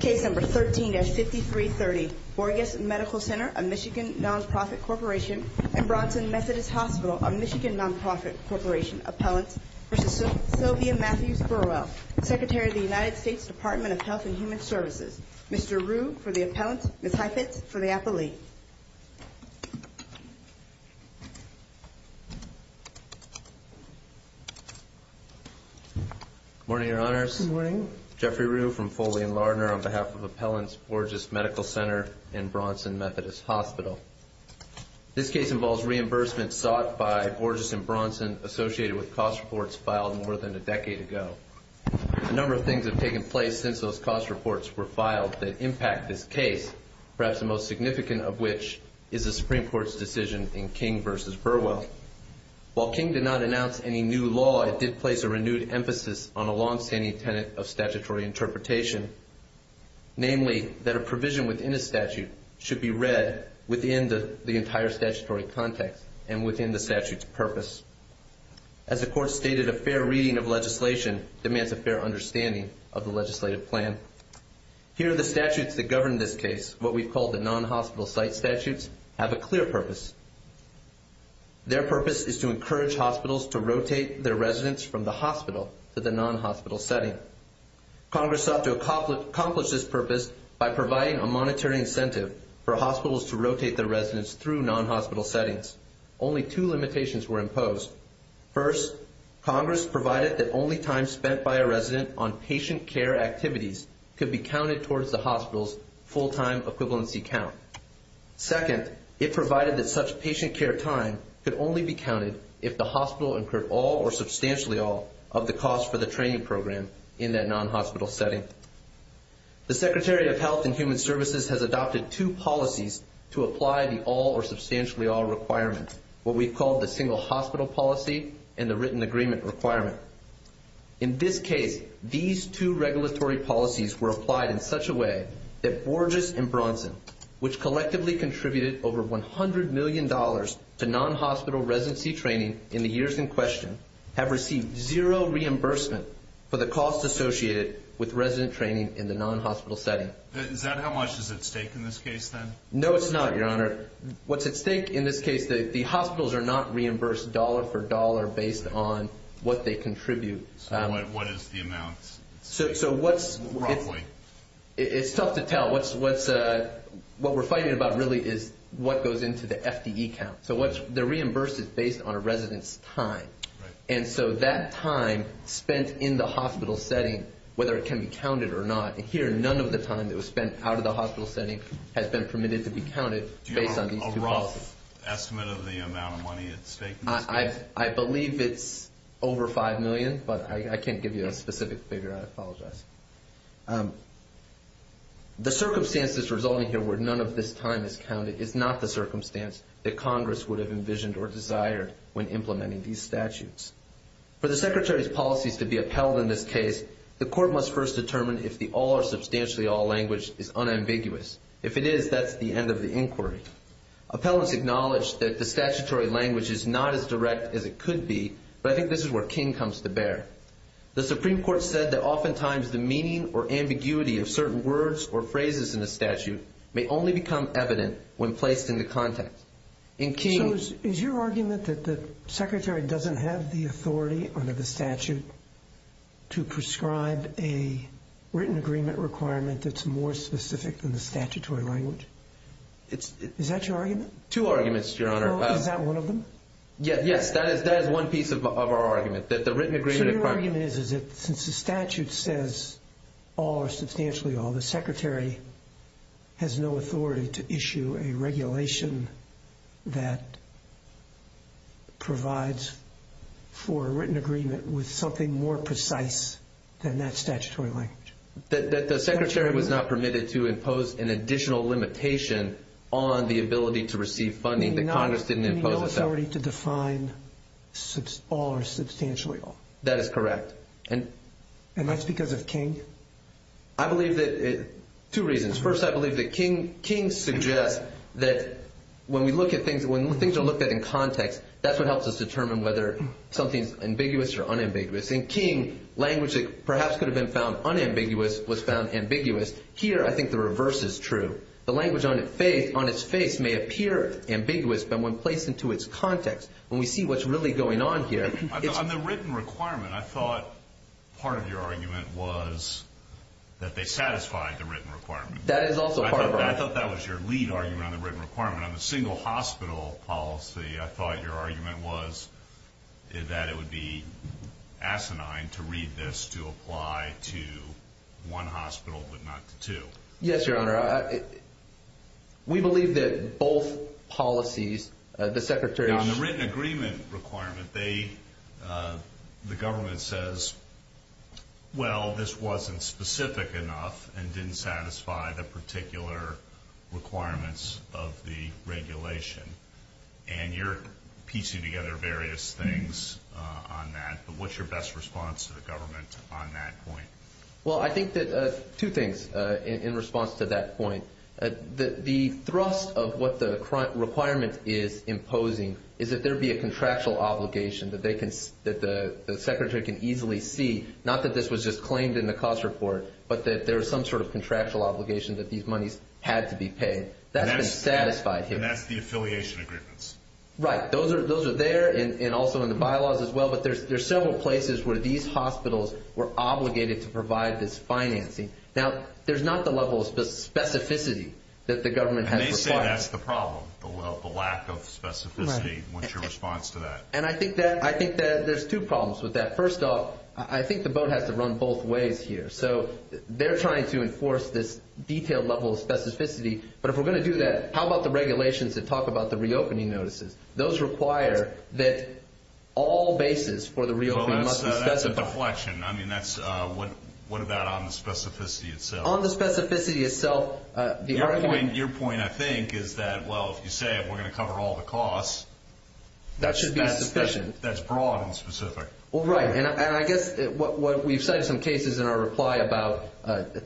Case number 13-5330, Borgess Medical Center of Michigan Non-Profit Corporation and Bronson Methodist Hospital of Michigan Non-Profit Corporation Appellant v. Sylvia Mathews Burwell Secretary of the United States Department of Health and Human Services Mr. Rue for the Appellant, Ms. Heifetz for the Appellee Morning, Your Honors. Jeffrey Rue from Foley and Lardner on behalf of Appellants, Borgess Medical Center and Bronson Methodist Hospital. This case involves reimbursement sought by Borgess and Bronson associated with cost reports filed more than a decade ago. A number of things have taken place since those cost reports were filed that impact this case, perhaps the most significant of which is the Supreme Court's decision in King v. Burwell. While King did not announce any new law, it did place a renewed emphasis on a long-standing tenet of statutory interpretation, namely that a provision within a statute should be read within the entire statutory context and within the statute's purpose. As the Court stated, a fair reading of legislation demands a fair understanding of the legislative plan. Here are the statutes that govern this case, what we've called the non-hospital site statutes, have a clear purpose. Their purpose is to encourage hospitals to rotate their residents from the hospital to the non-hospital setting. Congress sought to accomplish this purpose by providing a monetary incentive for hospitals to rotate their residents through non-hospital settings. Only two limitations were imposed. First, Congress provided that only time spent by a resident on patient care activities could be counted towards the hospital's full-time equivalency count. Second, it provided that such patient care time could only be counted if the hospital incurred all or substantially all of the cost for the training program in that non-hospital setting. The Secretary of Health and Human Services has adopted two policies to apply the all or substantially all requirement, what we've called the single hospital policy and the written agreement requirement. In this case, these two regulatory policies were applied in such a way that Borges and Bronson, which collectively contributed over $100 million to non-hospital residency training in the years in question, have received zero reimbursement for the cost associated with resident training in the non-hospital setting. Is that how much is at stake in this case then? No, it's not, Your Honor. What's at stake in this case, the hospitals are not reimbursed dollar for dollar based on what they contribute. So what is the amount? It's tough to tell. What we're fighting about really is what goes into the FTE count. So they're reimbursed based on a resident's time. And so that time spent in the hospital setting, whether it can be counted or not, here none of the time that was spent out of the hospital setting has been permitted to be counted based on these two policies. Do you have a rough estimate of the amount of money at stake in this case? I believe it's over $5 million, but I can't give you a specific figure. I apologize. The circumstances resulting here where none of this time is counted is not the circumstance that Congress would have envisioned or desired when implementing these statutes. For the Secretary's policies to be upheld in this case, the court must first determine if the all or substantially all language is unambiguous. If it is, that's the end of the inquiry. Appellants acknowledge that the statutory language is not as direct as it could be, but I think this is where King comes to bear. The Supreme Court said that oftentimes the meaning or ambiguity of certain words or phrases in a statute may only become evident when placed into context. Is your argument that the Secretary doesn't have the authority under the statute to prescribe a written agreement requirement that's more specific than the statutory language? Is that your argument? Two arguments, Your Honor. Is that one of them? So your argument is that since the statute says all or substantially all, the Secretary has no authority to issue a regulation that provides for a written agreement with something more precise than that statutory language? That the Secretary was not permitted to impose an additional limitation on the ability to receive funding. You mean no authority to define all or substantially all? That is correct. And that's because of King? I believe that – two reasons. First, I believe that King suggests that when we look at things – when things are looked at in context, that's what helps us determine whether something's ambiguous or unambiguous. In King, language that perhaps could have been found unambiguous was found ambiguous. Here, I think the reverse is true. The language on its face may appear ambiguous, but when placed into its context, when we see what's really going on here – On the written requirement, I thought part of your argument was that they satisfied the written requirement. That is also part of our – I thought that was your lead argument on the written requirement. On the single hospital policy, I thought your argument was that it would be asinine to read this to apply to one hospital but not to two. Yes, Your Honor. We believe that both policies – the Secretary – On the written agreement requirement, they – the government says, well, this wasn't specific enough and didn't satisfy the particular requirements of the regulation. And you're piecing together various things on that, but what's your best response to the government on that point? Well, I think that – two things in response to that point. The thrust of what the requirement is imposing is that there be a contractual obligation that they can – that the Secretary can easily see, not that this was just claimed in the cost report, but that there was some sort of contractual obligation that these monies had to be paid. That's been satisfied here. And that's the affiliation agreements. Right. Those are there and also in the bylaws as well, but there's several places where these hospitals were obligated to provide this financing. Now, there's not the level of specificity that the government has required. And they say that's the problem, the lack of specificity. What's your response to that? And I think that – I think that there's two problems with that. First off, I think the boat has to run both ways here. So they're trying to enforce this detailed level of specificity, but if we're going to do that, how about the regulations that talk about the reopening notices? Those require that all bases for the reopening must be specified. Well, that's a deflection. I mean, that's – what about on the specificity itself? On the specificity itself, the argument – Your point, I think, is that, well, if you say we're going to cover all the costs – That should be sufficient. That's broad and specific. Well, right. And I guess what we've cited some cases in our reply about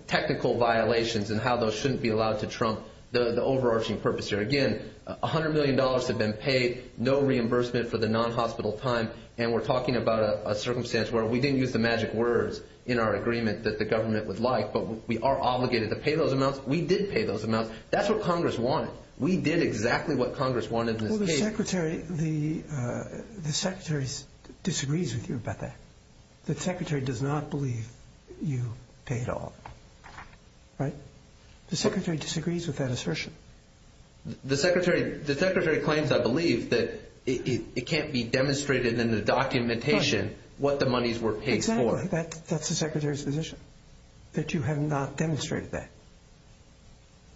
technical violations and how those shouldn't be allowed to trump the overarching purpose here. Again, $100 million have been paid, no reimbursement for the non-hospital time. And we're talking about a circumstance where we didn't use the magic words in our agreement that the government would like, but we are obligated to pay those amounts. We did pay those amounts. That's what Congress wanted. We did exactly what Congress wanted in this case. Well, the Secretary – the Secretary disagrees with you about that. The Secretary does not believe you paid all. Right? The Secretary disagrees with that assertion. The Secretary claims, I believe, that it can't be demonstrated in the documentation what the monies were paid for. Exactly. That's the Secretary's position, that you have not demonstrated that.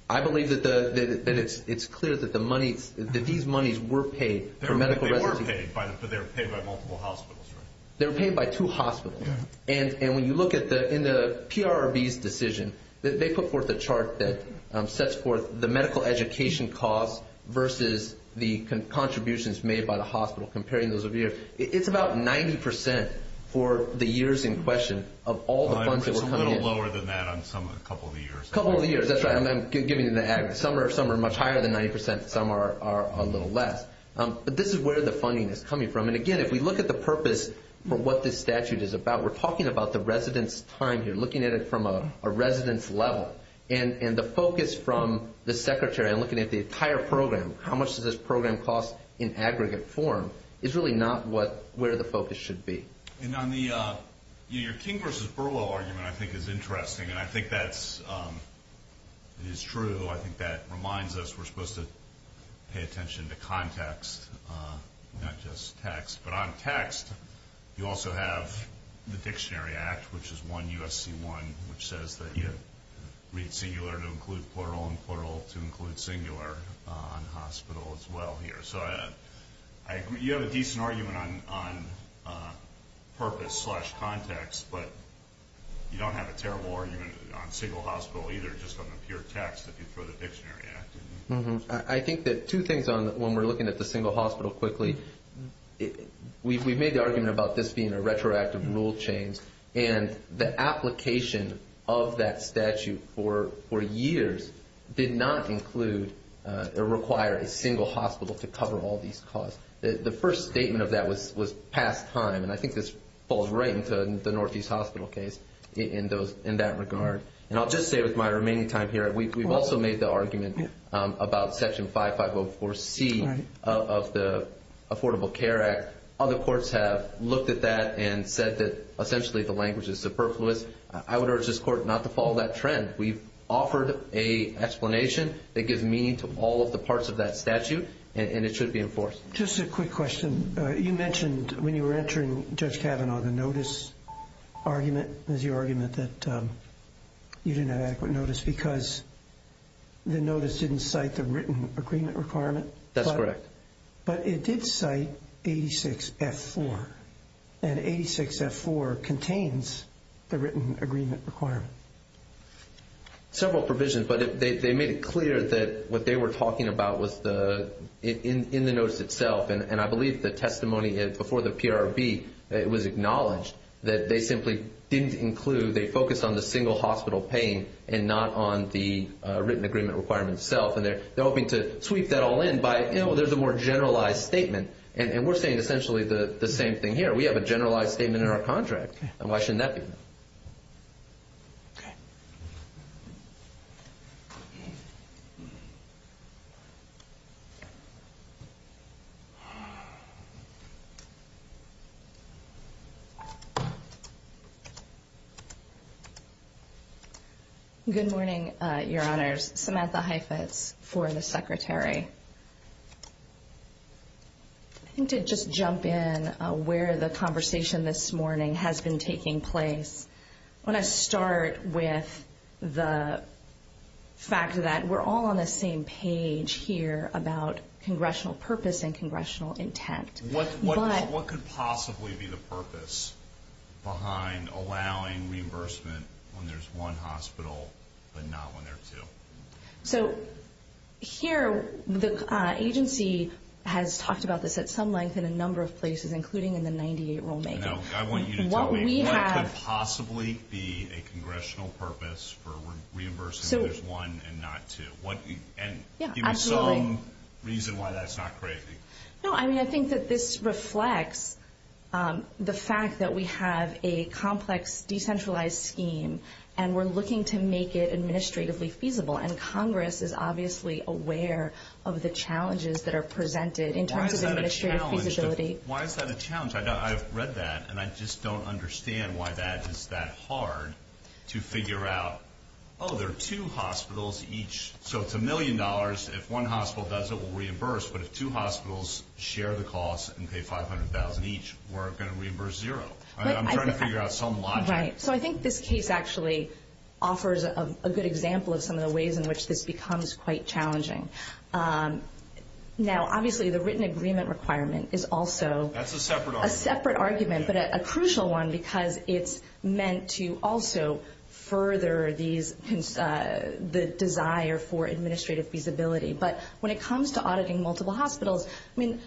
I believe that it's clear that the monies – that these monies were paid for medical residency. They were paid, but they were paid by multiple hospitals, right? They were paid by two hospitals. And when you look at the – in the PRRB's decision, they put forth a chart that sets forth the medical education costs versus the contributions made by the hospital, comparing those of years. It's about 90% for the years in question of all the funds that were coming in. It's a little lower than that on some of the – a couple of the years. A couple of the years. That's right. I'm giving you the aggregate. Some are much higher than 90%. Some are a little less. But this is where the funding is coming from. And, again, if we look at the purpose for what this statute is about, we're talking about the residence time here, looking at it from a residence level. And the focus from the Secretary on looking at the entire program, how much does this program cost in aggregate form, is really not what – where the focus should be. And on the – your King versus Burwell argument, I think, is interesting. And I think that's – it is true. I think that reminds us we're supposed to pay attention to context, not just text. But on text, you also have the Dictionary Act, which is 1 U.S.C. 1, which says that you read singular to include plural and plural to include singular on hospital as well here. So you have a decent argument on purpose slash context, but you don't have a terrible argument on single hospital either, just on the pure text that you throw the Dictionary Act in. I think that two things on – when we're looking at the single hospital quickly, we've made the argument about this being a retroactive rule change. And the application of that statute for years did not include or require a single hospital to cover all these costs. The first statement of that was past time. And I think this falls right into the Northeast Hospital case in that regard. And I'll just say with my remaining time here, we've also made the argument about Section 5504C of the Affordable Care Act. Other courts have looked at that and said that essentially the language is superfluous. I would urge this Court not to follow that trend. We've offered an explanation that gives meaning to all of the parts of that statute, and it should be enforced. Just a quick question. You mentioned when you were entering, Judge Kavanaugh, the notice argument. It was your argument that you didn't have adequate notice because the notice didn't cite the written agreement requirement. That's correct. But it did cite 86F4, and 86F4 contains the written agreement requirement. Several provisions, but they made it clear that what they were talking about was in the notice itself. And I believe the testimony before the PRB, it was acknowledged that they simply didn't include – they focused on the single hospital paying and not on the written agreement requirement itself. And they're hoping to sweep that all in by, you know, there's a more generalized statement. And we're saying essentially the same thing here. We have a generalized statement in our contract, and why shouldn't that be? Okay. Good morning, Your Honors. Samantha Heifetz for the Secretary. I think to just jump in where the conversation this morning has been taking place, I want to start with the fact that we're all on the same page here about congressional purpose and congressional intent. What could possibly be the purpose behind allowing reimbursement when there's one hospital but not when there are two? So here, the agency has talked about this at some length in a number of places, including in the 98 rulemaking. I want you to tell me what could possibly be a congressional purpose for reimbursing when there's one and not two? And give me some reason why that's not crazy. No, I mean, I think that this reflects the fact that we have a complex, decentralized scheme, and we're looking to make it administratively feasible. And Congress is obviously aware of the challenges that are presented in terms of administrative feasibility. Why is that a challenge? I've read that, and I just don't understand why that is that hard to figure out. Oh, there are two hospitals each, so it's a million dollars. If one hospital does it, we'll reimburse. But if two hospitals share the cost and pay $500,000 each, we're going to reimburse zero. I'm trying to figure out some logic. Right, so I think this case actually offers a good example of some of the ways in which this becomes quite challenging. Now, obviously, the written agreement requirement is also a separate argument, but a crucial one because it's meant to also further the desire for administrative feasibility. But when it comes to auditing multiple hospitals, I mean,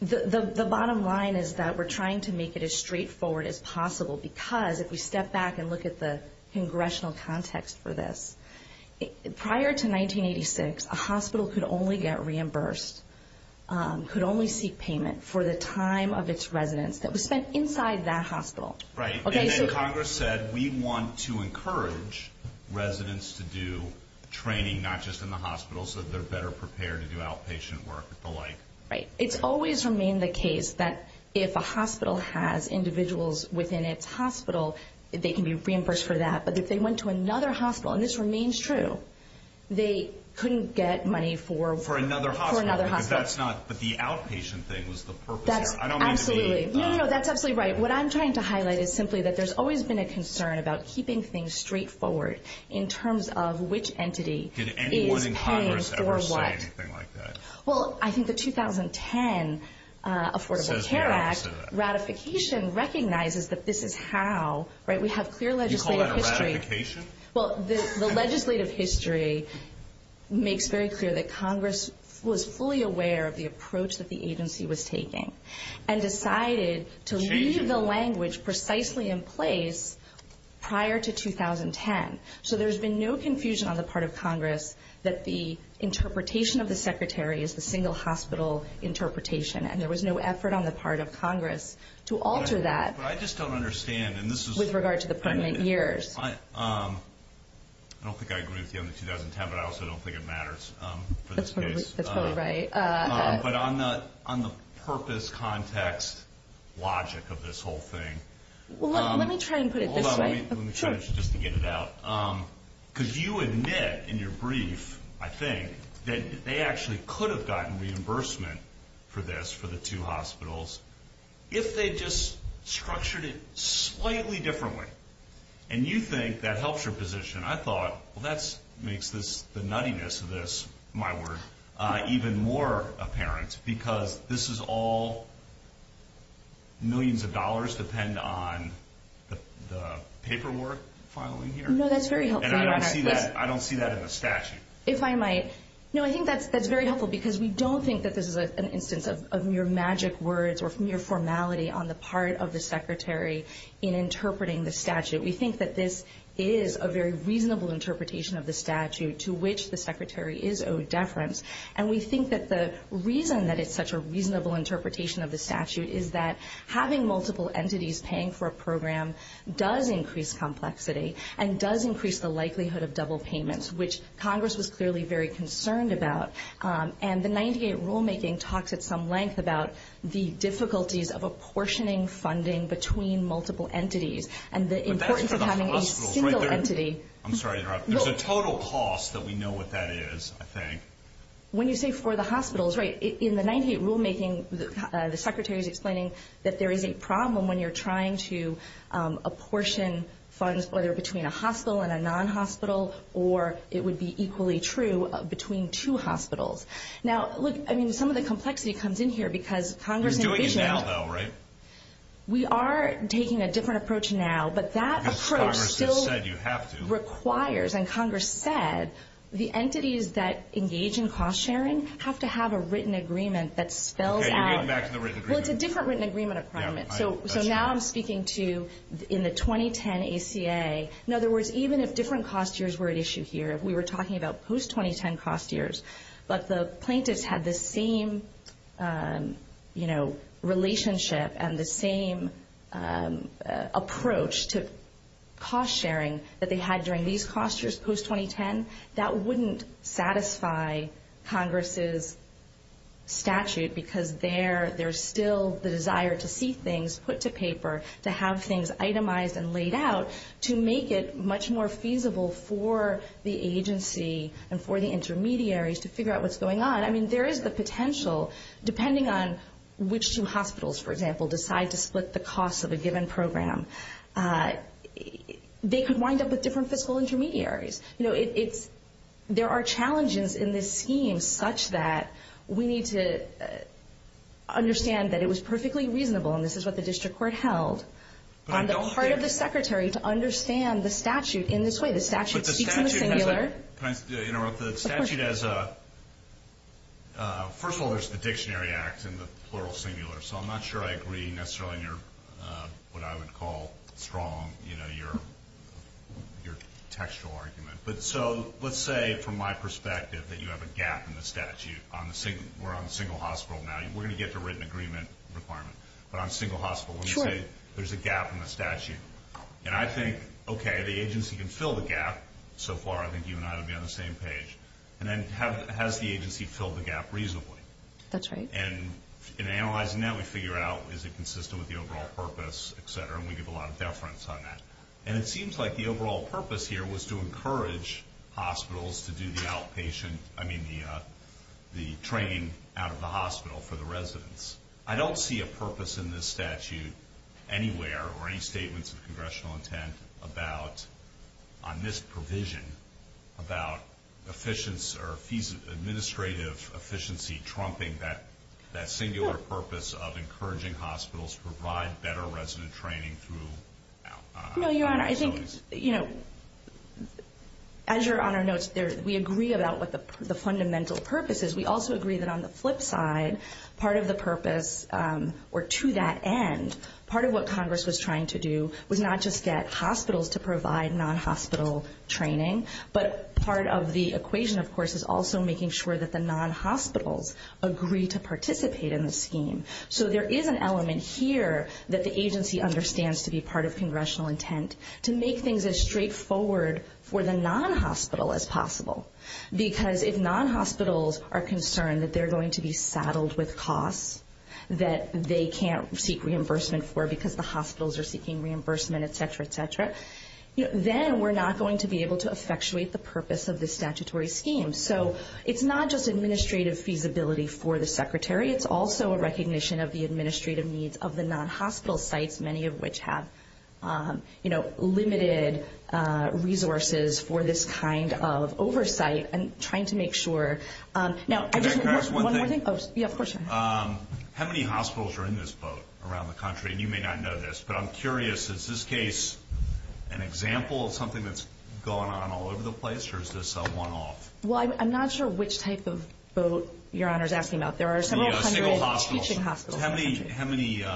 the bottom line is that we're trying to make it as straightforward as possible because if we step back and look at the congressional context for this, prior to 1986, a hospital could only get reimbursed, could only seek payment for the time of its residence that was spent inside that hospital. Right, and then Congress said, we want to encourage residents to do training not just in the hospital so that they're better prepared to do outpatient work and the like. Right. It's always remained the case that if a hospital has individuals within its hospital, they can be reimbursed for that. But if they went to another hospital, and this remains true, they couldn't get money for another hospital. But the outpatient thing was the purpose. Absolutely. No, no, no, that's absolutely right. What I'm trying to highlight is simply that there's always been a concern about keeping things straightforward in terms of which entity is paying for what. Did anyone in Congress ever say anything like that? Well, I think the 2010 Affordable Care Act ratification recognizes that this is how. We have clear legislative history. You call that a ratification? Well, the legislative history makes very clear that Congress was fully aware of the approach that the agency was taking and decided to leave the language precisely in place prior to 2010. So there's been no confusion on the part of Congress that the interpretation of the secretary is the single hospital interpretation, and there was no effort on the part of Congress to alter that. But I just don't understand. With regard to the permanent years. I don't think I agree with you on the 2010, but I also don't think it matters for this case. That's totally right. But on the purpose, context, logic of this whole thing. Well, let me try and put it this way. Hold on, let me finish just to get it out. Because you admit in your brief, I think, that they actually could have gotten reimbursement for this, for the two hospitals, if they just structured it slightly differently. And you think that helps your position. I thought, well, that makes the nuttiness of this, my word, even more apparent, because this is all millions of dollars depend on the paperwork filing here. No, that's very helpful. And I don't see that in the statute. If I might. No, I think that's very helpful, because we don't think that this is an instance of mere magic words or mere formality on the part of the secretary in interpreting the statute. We think that this is a very reasonable interpretation of the statute to which the secretary is owed deference. And we think that the reason that it's such a reasonable interpretation of the statute is that having multiple entities paying for a program does increase complexity and does increase the likelihood of double payments, which Congress was clearly very concerned about. And the 98 rulemaking talks at some length about the difficulties of apportioning funding between multiple entities. And the importance of having a single entity. I'm sorry to interrupt. There's a total cost that we know what that is, I think. When you say for the hospitals, right, in the 98 rulemaking, the secretary is explaining that there is a problem when you're trying to apportion funds, whether between a hospital and a non-hospital, or it would be equally true between two hospitals. Now, look, I mean, some of the complexity comes in here, because Congress envisions. You're doing it now, though, right? We are taking a different approach now, but that approach still requires, and Congress said the entities that engage in cost sharing have to have a written agreement that spells out. Okay, you're getting back to the written agreement. Well, it's a different written agreement requirement. So now I'm speaking to in the 2010 ACA. In other words, even if different cost years were at issue here, if we were talking about post-2010 cost years, but the plaintiffs had the same relationship and the same approach to cost sharing that they had during these cost years, post-2010, that wouldn't satisfy Congress's statute, because there's still the desire to see things put to paper, to have things itemized and laid out to make it much more feasible for the agency and for the intermediaries to figure out what's going on. I mean, there is the potential, depending on which two hospitals, for example, decide to split the cost of a given program, they could wind up with different fiscal intermediaries. You know, there are challenges in this scheme such that we need to understand that it was perfectly reasonable, and this is what the district court held, on the part of the secretary to understand the statute in this way. The statute speaks in the singular. Can I interrupt? The statute has a – first of all, there's the Dictionary Act in the plural singular, so I'm not sure I agree necessarily in what I would call strong, you know, your textual argument. So let's say, from my perspective, that you have a gap in the statute. We're on the single hospital now. I mean, we're going to get to written agreement requirement, but on single hospital, let me say there's a gap in the statute. And I think, okay, the agency can fill the gap. So far, I think you and I would be on the same page. And then has the agency filled the gap reasonably? That's right. And in analyzing that, we figure out is it consistent with the overall purpose, et cetera, and we give a lot of deference on that. And it seems like the overall purpose here was to encourage hospitals to do the outpatient – I don't see a purpose in this statute anywhere or any statements of congressional intent about, on this provision, about efficiency or administrative efficiency trumping that singular purpose of encouraging hospitals to provide better resident training through outpatient facilities. No, Your Honor, I think, you know, as Your Honor notes, we agree about what the fundamental purpose is. We also agree that on the flip side, part of the purpose, or to that end, part of what Congress was trying to do was not just get hospitals to provide non-hospital training, but part of the equation, of course, is also making sure that the non-hospitals agree to participate in the scheme. So there is an element here that the agency understands to be part of congressional intent to make things as straightforward for the non-hospital as possible. Because if non-hospitals are concerned that they're going to be saddled with costs that they can't seek reimbursement for because the hospitals are seeking reimbursement, et cetera, et cetera, then we're not going to be able to effectuate the purpose of this statutory scheme. So it's not just administrative feasibility for the Secretary. It's also a recognition of the administrative needs of the non-hospital sites, many of which have limited resources for this kind of oversight and trying to make sure. Now, one more thing. How many hospitals are in this boat around the country? And you may not know this, but I'm curious. Is this case an example of something that's going on all over the place, or is this a one-off? Well, I'm not sure which type of boat Your Honor is asking about. There are several hundred teaching hospitals. How many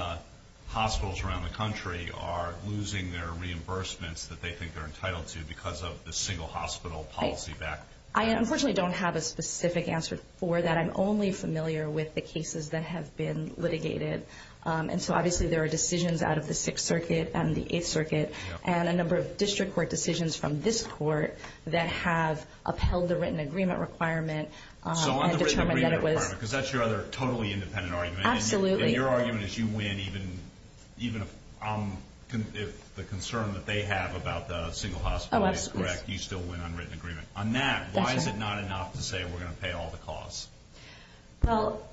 hospitals around the country are losing their reimbursements that they think they're entitled to because of the single hospital policy back? I unfortunately don't have a specific answer for that. I'm only familiar with the cases that have been litigated. And so obviously there are decisions out of the Sixth Circuit and the Eighth Circuit and a number of district court decisions from this court that have upheld the written agreement requirement. So on the written agreement requirement, because that's your other totally independent argument. Absolutely. And your argument is you win even if the concern that they have about the single hospital is correct. You still win on written agreement. On that, why is it not enough to say we're going to pay all the costs? Well,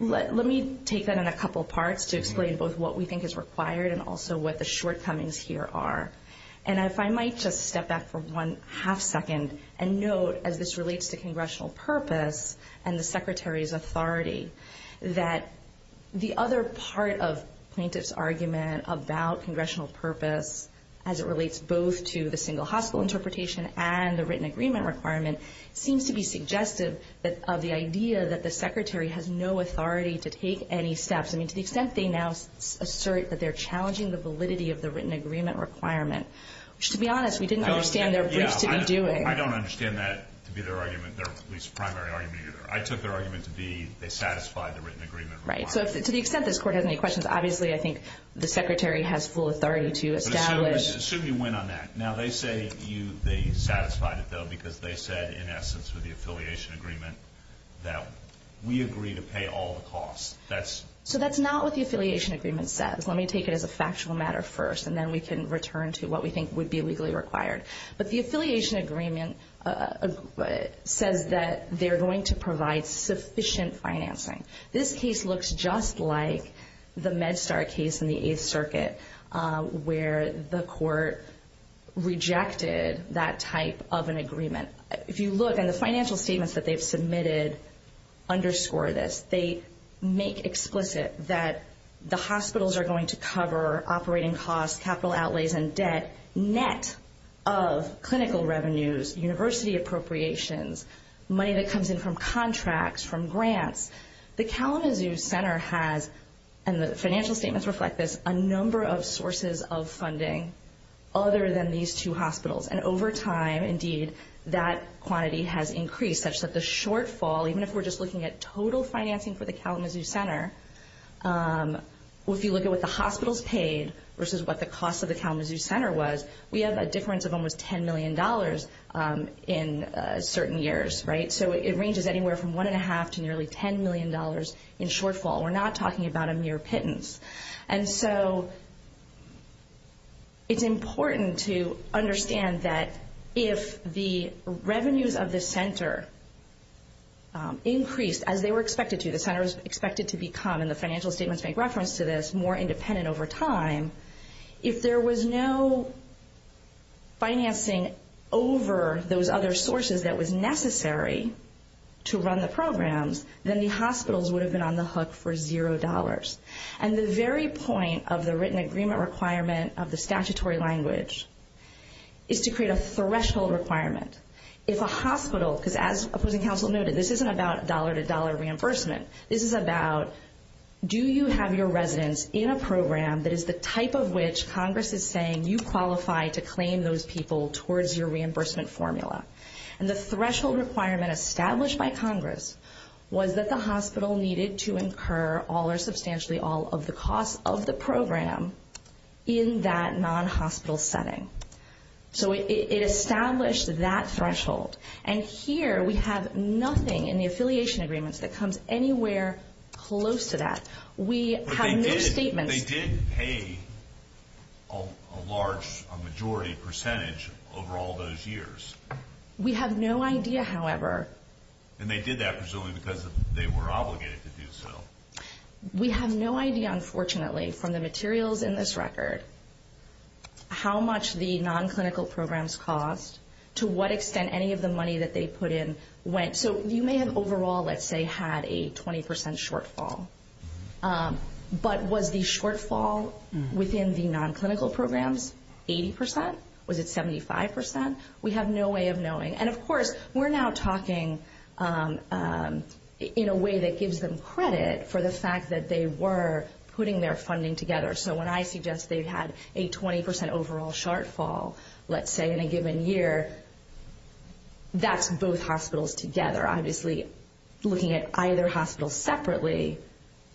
let me take that in a couple parts to explain both what we think is required and also what the shortcomings here are. And if I might just step back for one half second and note, as this relates to congressional purpose and the Secretary's authority, that the other part of plaintiff's argument about congressional purpose as it relates both to the single hospital interpretation and the written agreement requirement seems to be suggestive of the idea that the Secretary has no authority to take any steps. I mean, to the extent they now assert that they're challenging the validity of the written agreement requirement, which, to be honest, we didn't understand their briefs to be doing. I don't understand that to be their argument, their at least primary argument either. I took their argument to be they satisfied the written agreement requirement. Right. So to the extent this Court has any questions, obviously I think the Secretary has full authority to establish. But assume you win on that. Now, they say they satisfied it, though, because they said in essence with the affiliation agreement that we agree to pay all the costs. So that's not what the affiliation agreement says. Let me take it as a factual matter first, and then we can return to what we think would be legally required. But the affiliation agreement says that they're going to provide sufficient financing. This case looks just like the MedStar case in the Eighth Circuit where the court rejected that type of an agreement. If you look in the financial statements that they've submitted underscore this. They make explicit that the hospitals are going to cover operating costs, capital outlays and debt, net of clinical revenues, university appropriations, money that comes in from contracts, from grants. The Kalamazoo Center has, and the financial statements reflect this, a number of sources of funding other than these two hospitals. And over time, indeed, that quantity has increased such that the shortfall, even if we're just looking at total financing for the Kalamazoo Center, if you look at what the hospitals paid versus what the cost of the Kalamazoo Center was, we have a difference of almost $10 million in certain years, right? So it ranges anywhere from $1.5 to nearly $10 million in shortfall. We're not talking about a mere pittance. And so it's important to understand that if the revenues of the center increased as they were expected to, the center was expected to become, and the financial statements make reference to this, more independent over time, if there was no financing over those other sources that was necessary to run the programs, then the hospitals would have been on the hook for $0. And the very point of the written agreement requirement of the statutory language is to create a threshold requirement. If a hospital, because as opposing counsel noted, this isn't about dollar-to-dollar reimbursement. This is about do you have your residents in a program that is the type of which Congress is saying you qualify to claim those people towards your reimbursement formula. And the threshold requirement established by Congress was that the hospital needed to incur all or substantially all of the costs of the program in that non-hospital setting. So it established that threshold. And here we have nothing in the affiliation agreements that comes anywhere close to that. We have no statements. But they did pay a large majority percentage over all those years. We have no idea, however. And they did that presumably because they were obligated to do so. We have no idea, unfortunately, from the materials in this record, how much the non-clinical programs cost, to what extent any of the money that they put in went. So you may have overall, let's say, had a 20% shortfall. But was the shortfall within the non-clinical programs 80%? Was it 75%? We have no way of knowing. And, of course, we're now talking in a way that gives them credit for the fact that they were putting their funding together. So when I suggest they've had a 20% overall shortfall, let's say, in a given year, that's both hospitals together. Obviously, looking at either hospital separately,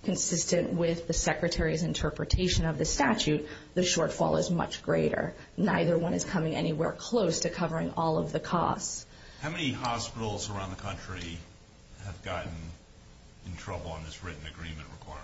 consistent with the Secretary's interpretation of the statute, the shortfall is much greater. Neither one is coming anywhere close to covering all of the costs. How many hospitals around the country have gotten in trouble on this written agreement requirement?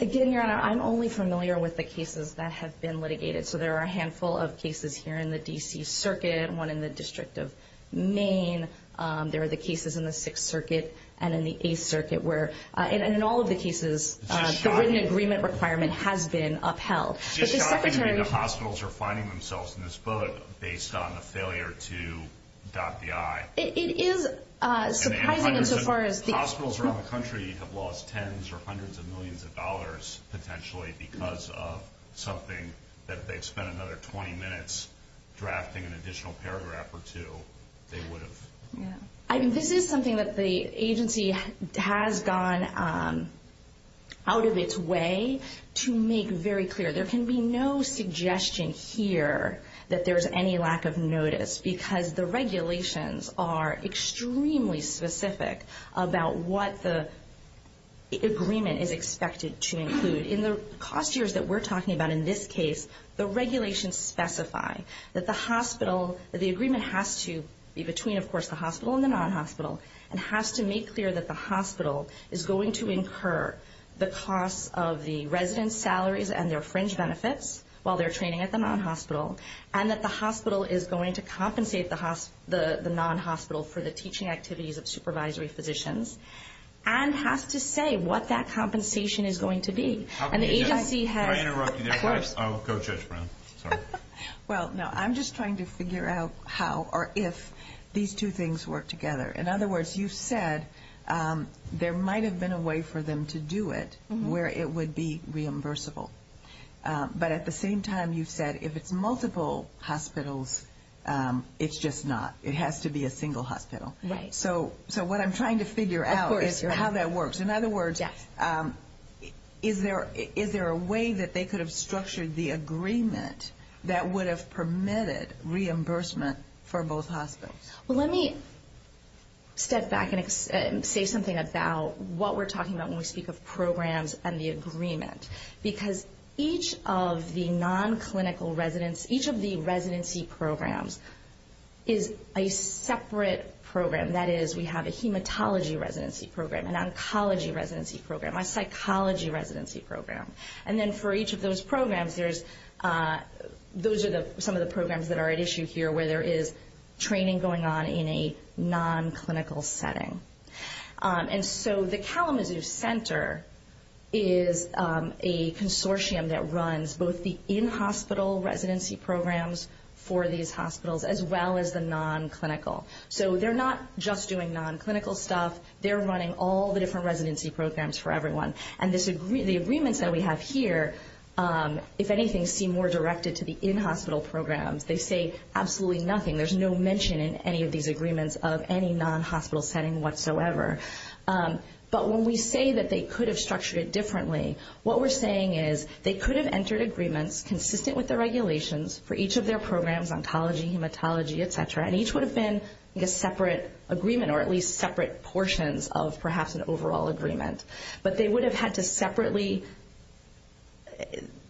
Again, Your Honor, I'm only familiar with the cases that have been litigated. So there are a handful of cases here in the D.C. Circuit, one in the District of Maine. There are the cases in the Sixth Circuit and in the Eighth Circuit where, in all of the cases, the written agreement requirement has been upheld. It's just shocking to me that hospitals are finding themselves in this book based on a failure to dot the I. It is surprising insofar as the hospitals around the country have lost tens or hundreds of millions of dollars, potentially because of something that if they had spent another 20 minutes drafting an additional paragraph or two, they would have. This is something that the agency has gone out of its way to make very clear. There can be no suggestion here that there's any lack of notice, because the regulations are extremely specific about what the agreement is expected to include. In the cost years that we're talking about in this case, the regulations specify that the hospital, the agreement has to be between, of course, the hospital and the non-hospital, and has to make clear that the hospital is going to incur the costs of the resident's salaries and their fringe benefits while they're training at the non-hospital, and that the hospital is going to compensate the non-hospital for the teaching activities of supervisory physicians, and has to say what that compensation is going to be. And the agency has – Can I interrupt you there? Of course. Go, Judge Brown. Well, no, I'm just trying to figure out how or if these two things work together. In other words, you've said there might have been a way for them to do it where it would be reimbursable. But at the same time, you've said if it's multiple hospitals, it's just not. It has to be a single hospital. Right. So what I'm trying to figure out is how that works. In other words, is there a way that they could have structured the agreement that would have permitted reimbursement for both hospitals? Well, let me step back and say something about what we're talking about when we speak of programs and the agreement. Because each of the non-clinical residents, each of the residency programs is a separate program. That is, we have a hematology residency program, an oncology residency program, a psychology residency program. And then for each of those programs, those are some of the programs that are at issue here where there is training going on in a non-clinical setting. And so the Kalamazoo Center is a consortium that runs both the in-hospital residency programs for these hospitals, as well as the non-clinical. So they're not just doing non-clinical stuff. They're running all the different residency programs for everyone. And the agreements that we have here, if anything, seem more directed to the in-hospital programs. They say absolutely nothing. There's no mention in any of these agreements of any non-hospital setting whatsoever. But when we say that they could have structured it differently, what we're saying is they could have entered agreements consistent with the regulations for each of their programs, ontology, hematology, et cetera, and each would have been a separate agreement or at least separate portions of perhaps an overall agreement. But they would have had to separately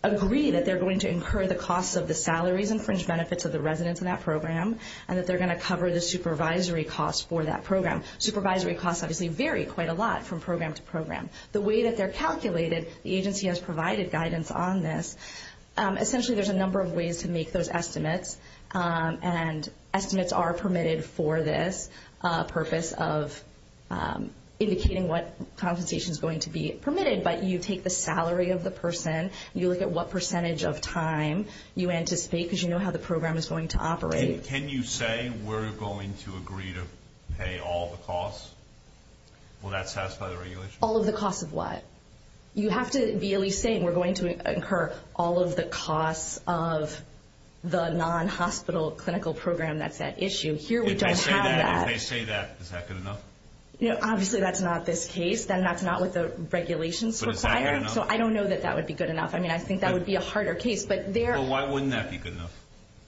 agree that they're going to incur the costs of the salaries and fringe benefits of the residents in that program and that they're going to cover the supervisory costs for that program. Supervisory costs obviously vary quite a lot from program to program. The way that they're calculated, the agency has provided guidance on this. Essentially, there's a number of ways to make those estimates, and estimates are permitted for this purpose of indicating what compensation is going to be permitted. But you take the salary of the person. You look at what percentage of time you anticipate because you know how the program is going to operate. Can you say we're going to agree to pay all the costs? Will that satisfy the regulations? All of the costs of what? You have to be at least saying we're going to incur all of the costs of the non-hospital clinical program that's at issue. Here we don't have that. If they say that, is that good enough? Obviously, that's not this case. That's not what the regulations require. So I don't know that that would be good enough. I mean, I think that would be a harder case. Well, why wouldn't that be good enough?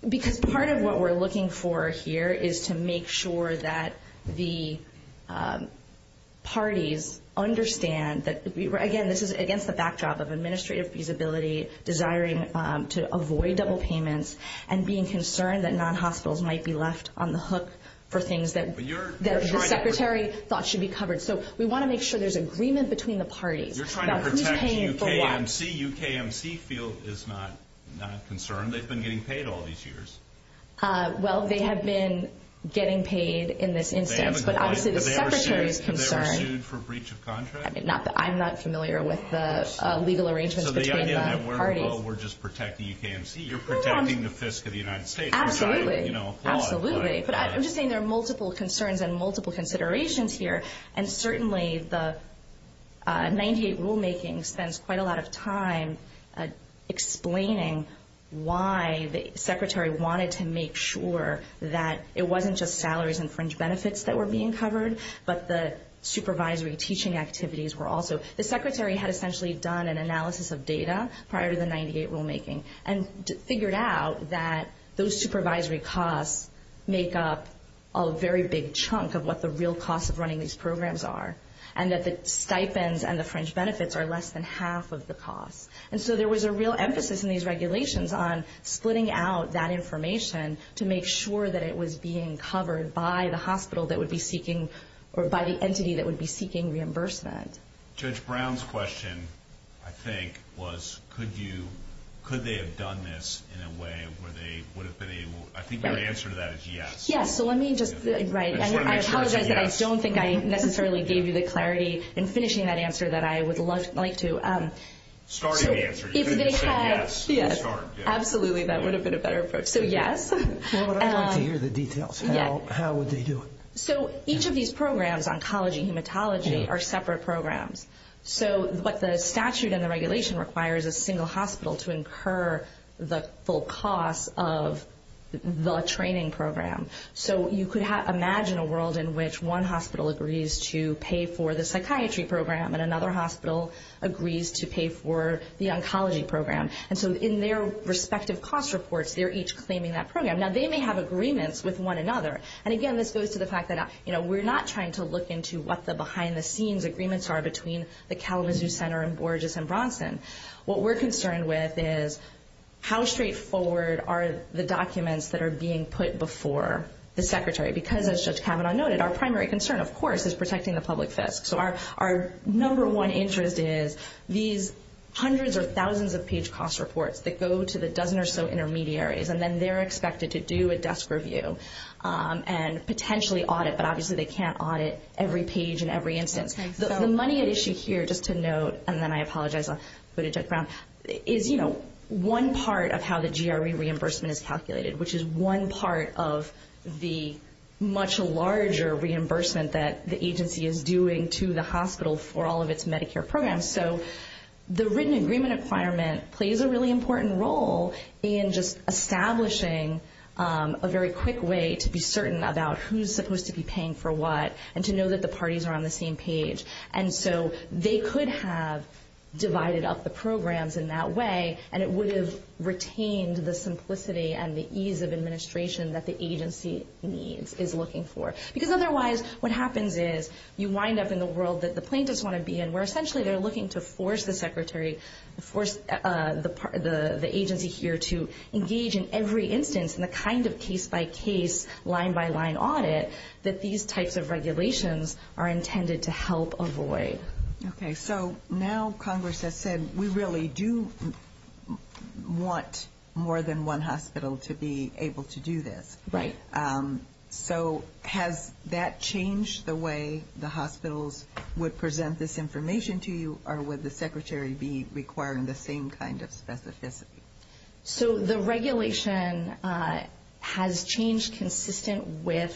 Because part of what we're looking for here is to make sure that the parties understand that, again, this is against the backdrop of administrative feasibility, desiring to avoid double payments, and being concerned that non-hospitals might be left on the hook for things that the Secretary thought should be covered. So we want to make sure there's agreement between the parties about who's paying for what. You're trying to protect UKMC. UKMC field is not concerned. They've been getting paid all these years. Well, they have been getting paid in this instance, but obviously the Secretary is concerned. They were sued for breach of contract? I'm not familiar with the legal arrangements between the parties. So the idea that we're just protecting UKMC. You're protecting the fiscal of the United States. Absolutely. I'm just saying there are multiple concerns and multiple considerations here, and certainly the 98 rulemaking spends quite a lot of time explaining why the Secretary wanted to make sure that it wasn't just salaries and fringe benefits that were being covered, but the supervisory teaching activities were also. The Secretary had essentially done an analysis of data prior to the 98 rulemaking and figured out that those supervisory costs make up a very big chunk of what the real costs of running these programs are, and that the stipends and the fringe benefits are less than half of the costs. And so there was a real emphasis in these regulations on splitting out that information to make sure that it was being covered by the hospital that would be seeking or by the entity that would be seeking reimbursement. Judge Brown's question, I think, was could they have done this in a way where they would have been able... I think your answer to that is yes. Yes. So let me just... Right. I apologize that I don't think I necessarily gave you the clarity in finishing that answer that I would like to. Start the answer. If they had... Yes. Start. Absolutely. That would have been a better approach. So yes. Well, I'd like to hear the details. How would they do it? So each of these programs, oncology, hematology, are separate programs. So what the statute and the regulation requires is a single hospital to incur the full costs of the training program. So you could imagine a world in which one hospital agrees to pay for the psychiatry program and another hospital agrees to pay for the oncology program. And so in their respective cost reports, they're each claiming that program. Now, they may have agreements with one another. And, again, this goes to the fact that we're not trying to look into what the behind-the-scenes agreements are between the Kalamazoo Center and Borges and Bronson. What we're concerned with is how straightforward are the documents that are being put before the secretary because, as Judge Kavanaugh noted, our primary concern, of course, is protecting the public fisc. So our number one interest is these hundreds or thousands of page cost reports that go to the dozen or so intermediaries, and then they're expected to do a desk review and potentially audit. But, obviously, they can't audit every page in every instance. The money at issue here, just to note, and then I apologize for putting Judge Brown, is one part of how the GRE reimbursement is calculated, which is one part of the much larger reimbursement that the agency is doing to the hospital for all of its Medicare programs. So the written agreement requirement plays a really important role in just establishing a very quick way to be certain about who's supposed to be paying for what and to know that the parties are on the same page. And so they could have divided up the programs in that way, and it would have retained the simplicity and the ease of administration that the agency needs, is looking for. Because, otherwise, what happens is you wind up in the world that the plaintiffs want to be in, where essentially they're looking to force the agency here to engage in every instance in the kind of case-by-case, line-by-line audit that these types of regulations are intended to help avoid. Okay, so now Congress has said, we really do want more than one hospital to be able to do this. Right. So has that changed the way the hospitals would present this information to you, or would the Secretary be requiring the same kind of specificity? So the regulation has changed consistent with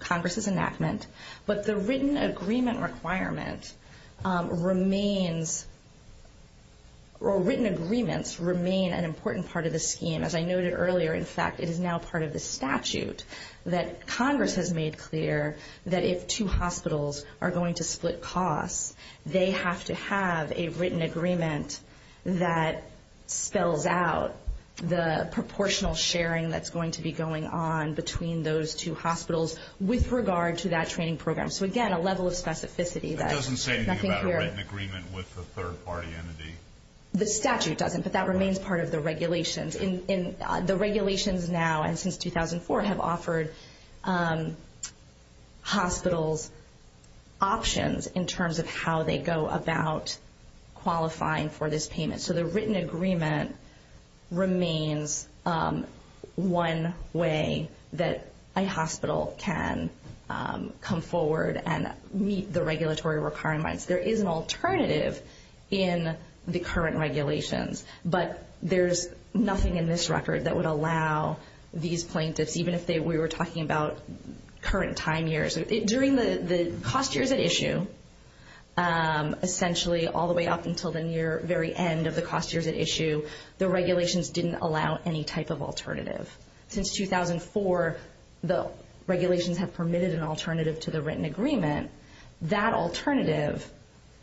Congress's enactment, but the written agreement requirement remains or written agreements remain an important part of the scheme. As I noted earlier, in fact, it is now part of the statute that Congress has made clear that if two hospitals are going to split costs, they have to have a written agreement that spells out the proportional sharing that's going to be going on between those two hospitals with regard to that training program. So, again, a level of specificity. That doesn't say anything about a written agreement with a third-party entity. The statute doesn't, but that remains part of the regulations. The regulations now and since 2004 have offered hospitals options in terms of how they go about qualifying for this payment. So the written agreement remains one way that a hospital can come forward and meet the regulatory requirements. There is an alternative in the current regulations, but there's nothing in this record that would allow these plaintiffs, even if we were talking about current time years. During the cost years at issue, essentially all the way up until the near very end of the cost years at issue, the regulations didn't allow any type of alternative. Since 2004, the regulations have permitted an alternative to the written agreement. That alternative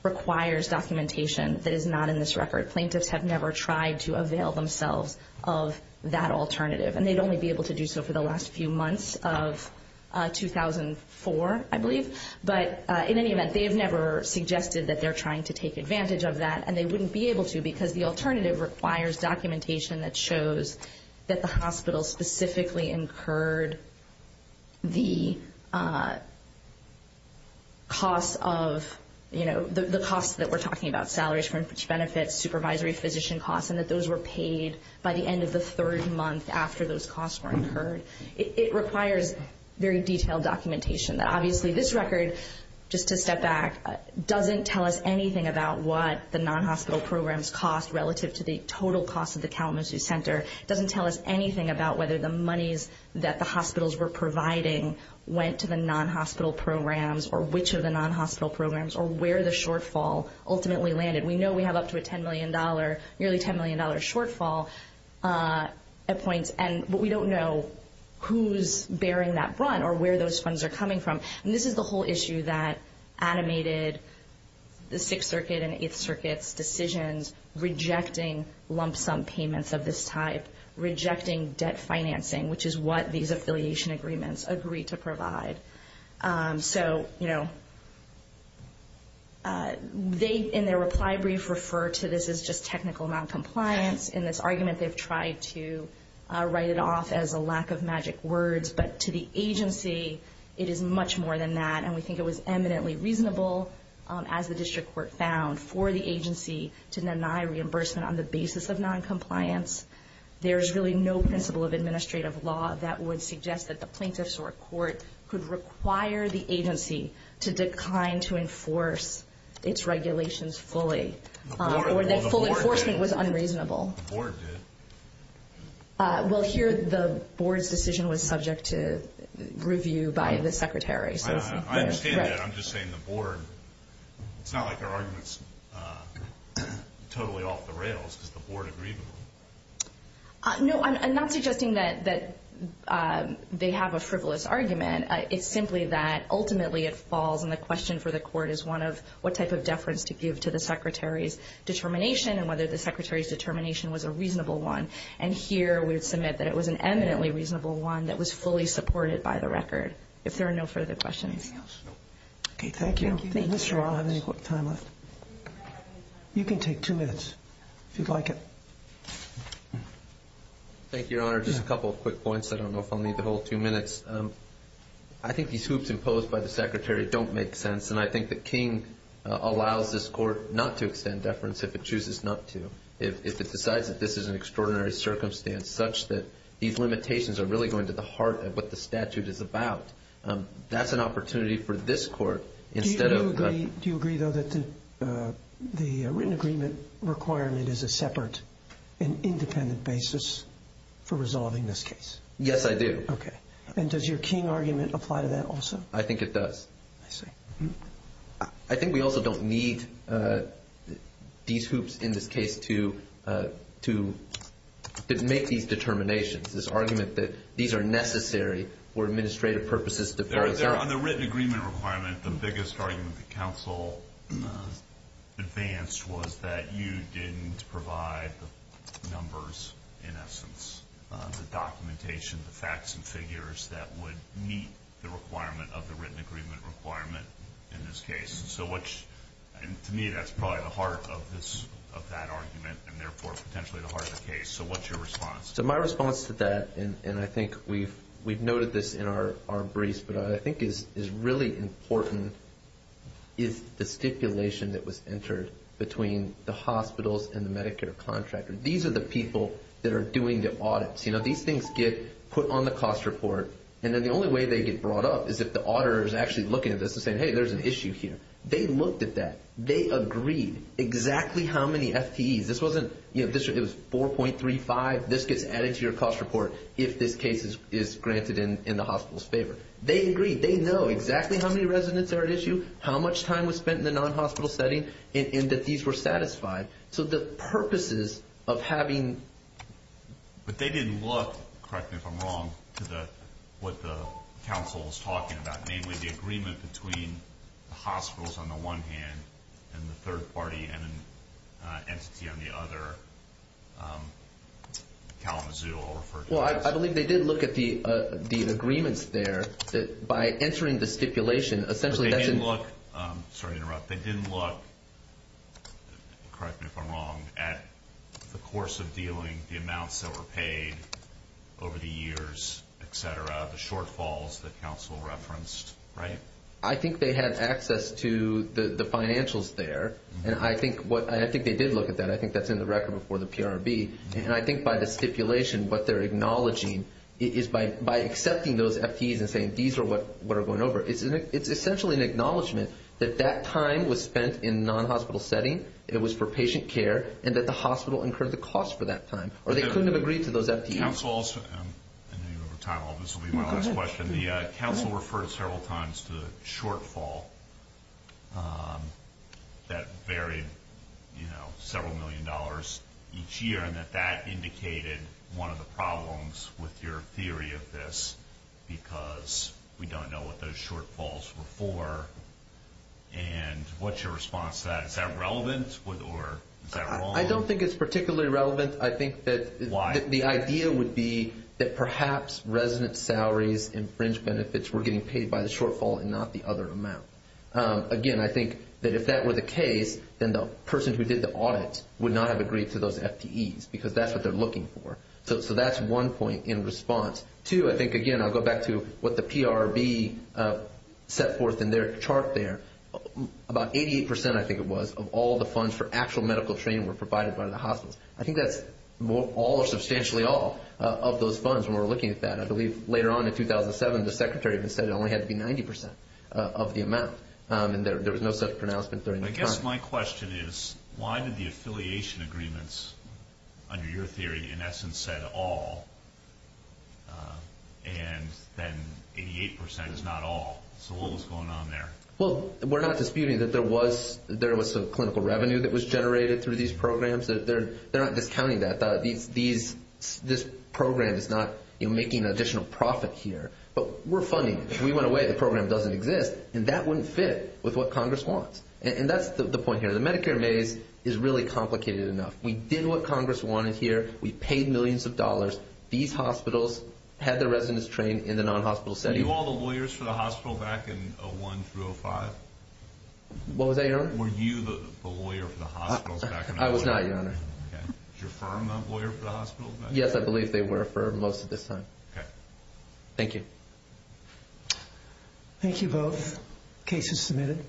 requires documentation that is not in this record. Plaintiffs have never tried to avail themselves of that alternative, and they'd only be able to do so for the last few months of 2004, I believe. But in any event, they have never suggested that they're trying to take advantage of that, and they wouldn't be able to because the alternative requires documentation that shows that the hospital specifically incurred the costs that we're talking about, salaries for benefits, supervisory physician costs, and that those were paid by the end of the third month after those costs were incurred. It requires very detailed documentation that obviously this record, just to step back, doesn't tell us anything about what the non-hospital programs cost relative to the total cost of the Kalamazoo Center. It doesn't tell us anything about whether the monies that the hospitals were providing went to the non-hospital programs or which of the non-hospital programs or where the shortfall ultimately landed. We know we have up to a $10 million, nearly $10 million shortfall at points, but we don't know who's bearing that brunt or where those funds are coming from. And this is the whole issue that animated the Sixth Circuit and Eighth Circuit's decisions, rejecting lump sum payments of this type, rejecting debt financing, which is what these affiliation agreements agreed to provide. So, you know, they, in their reply brief, refer to this as just technical noncompliance. In this argument, they've tried to write it off as a lack of magic words, but to the agency, it is much more than that. And we think it was eminently reasonable, as the district court found, for the agency to deny reimbursement on the basis of noncompliance. There is really no principle of administrative law that would suggest that the plaintiffs or court could require the agency to decline to enforce its regulations fully or that full enforcement was unreasonable. The board did. Well, here the board's decision was subject to review by the secretary. I understand that. I'm just saying the board. It's not like our argument's totally off the rails because the board agreed to it. No, I'm not suggesting that they have a frivolous argument. It's simply that ultimately it falls, and the question for the court is one of what type of deference to give to the secretary's determination and whether the secretary's determination was a reasonable one. And here we would submit that it was an eminently reasonable one that was fully supported by the record. If there are no further questions. Okay, thank you. Thank you. I'll have any time left. You can take two minutes if you'd like it. Thank you, Your Honor. Just a couple of quick points. I don't know if I'll need the whole two minutes. I think these hoops imposed by the secretary don't make sense, and I think the King allows this court not to extend deference if it chooses not to. If it decides that this is an extraordinary circumstance, such that these limitations are really going to the heart of what the statute is about, that's an opportunity for this court. Do you agree, though, that the written agreement requirement is a separate and independent basis for resolving this case? Yes, I do. Okay. And does your King argument apply to that also? I think it does. I see. I think we also don't need these hoops in this case to make these determinations, this argument that these are necessary for administrative purposes. On the written agreement requirement, the biggest argument the counsel advanced was that you didn't provide the numbers, in essence, the documentation, the facts and figures that would meet the requirement of the written agreement requirement in this case. To me, that's probably the heart of that argument and, therefore, potentially the heart of the case. So what's your response? My response to that, and I think we've noted this in our briefs, but what I think is really important is the stipulation that was entered between the hospitals and the Medicare contractor. These are the people that are doing the audits. These things get put on the cost report, and then the only way they get brought up is if the auditor is actually looking at this and saying, hey, there's an issue here. They looked at that. They agreed exactly how many FTEs. It was 4.35. This gets added to your cost report if this case is granted in the hospital's favor. They agreed. They know exactly how many residents are at issue, how much time was spent in the non-hospital setting, and that these were satisfied. So the purposes of having... But they didn't look, correct me if I'm wrong, to what the counsel was talking about, namely the agreement between the hospitals on the one hand and the third party and an entity on the other, Kalamazoo. Well, I believe they did look at the agreements there by entering the stipulation. Sorry to interrupt. They didn't look, correct me if I'm wrong, at the course of dealing, the amounts that were paid over the years, et cetera, the shortfalls that counsel referenced, right? I think they had access to the financials there, and I think they did look at that. I think that's in the record before the PRB. And I think by the stipulation, what they're acknowledging is by accepting those FTEs and saying these are what are going over, it's essentially an acknowledgment that that time was spent in non-hospital setting, it was for patient care, and that the hospital incurred the cost for that time, or they couldn't have agreed to those FTEs. Counsel, I know you have time. All this will be my last question. The counsel referred several times to the shortfall that varied several million dollars each year, and that that indicated one of the problems with your theory of this because we don't know what those shortfalls were for, and what's your response to that? Is that relevant, or is that wrong? I don't think it's particularly relevant. I think that the idea would be that perhaps resident salaries and fringe benefits were getting paid by the shortfall and not the other amount. Again, I think that if that were the case, then the person who did the audit would not have agreed to those FTEs because that's what they're looking for. So that's one point in response. Two, I think, again, I'll go back to what the PRB set forth in their chart there. About 88%, I think it was, of all the funds for actual medical training were provided by the hospitals. I think that's all or substantially all of those funds when we're looking at that. I believe later on in 2007, the secretary even said it only had to be 90% of the amount, but I guess my question is why did the affiliation agreements, under your theory, in essence said all, and then 88% is not all? So what was going on there? Well, we're not disputing that there was some clinical revenue that was generated through these programs. They're not discounting that. This program is not making an additional profit here. But we're funding it. If we went away, the program doesn't exist, and that wouldn't fit with what Congress wants. And that's the point here. The Medicare maze is really complicated enough. We did what Congress wanted here. We paid millions of dollars. These hospitals had their residents trained in the non-hospital setting. Were you all the lawyers for the hospital back in 01 through 05? What was that, Your Honor? Were you the lawyer for the hospitals back in 01? I was not, Your Honor. Okay. Was your firm the lawyer for the hospitals back then? Yes, I believe they were for most of this time. Okay. Thank you. Thank you both. Case is submitted.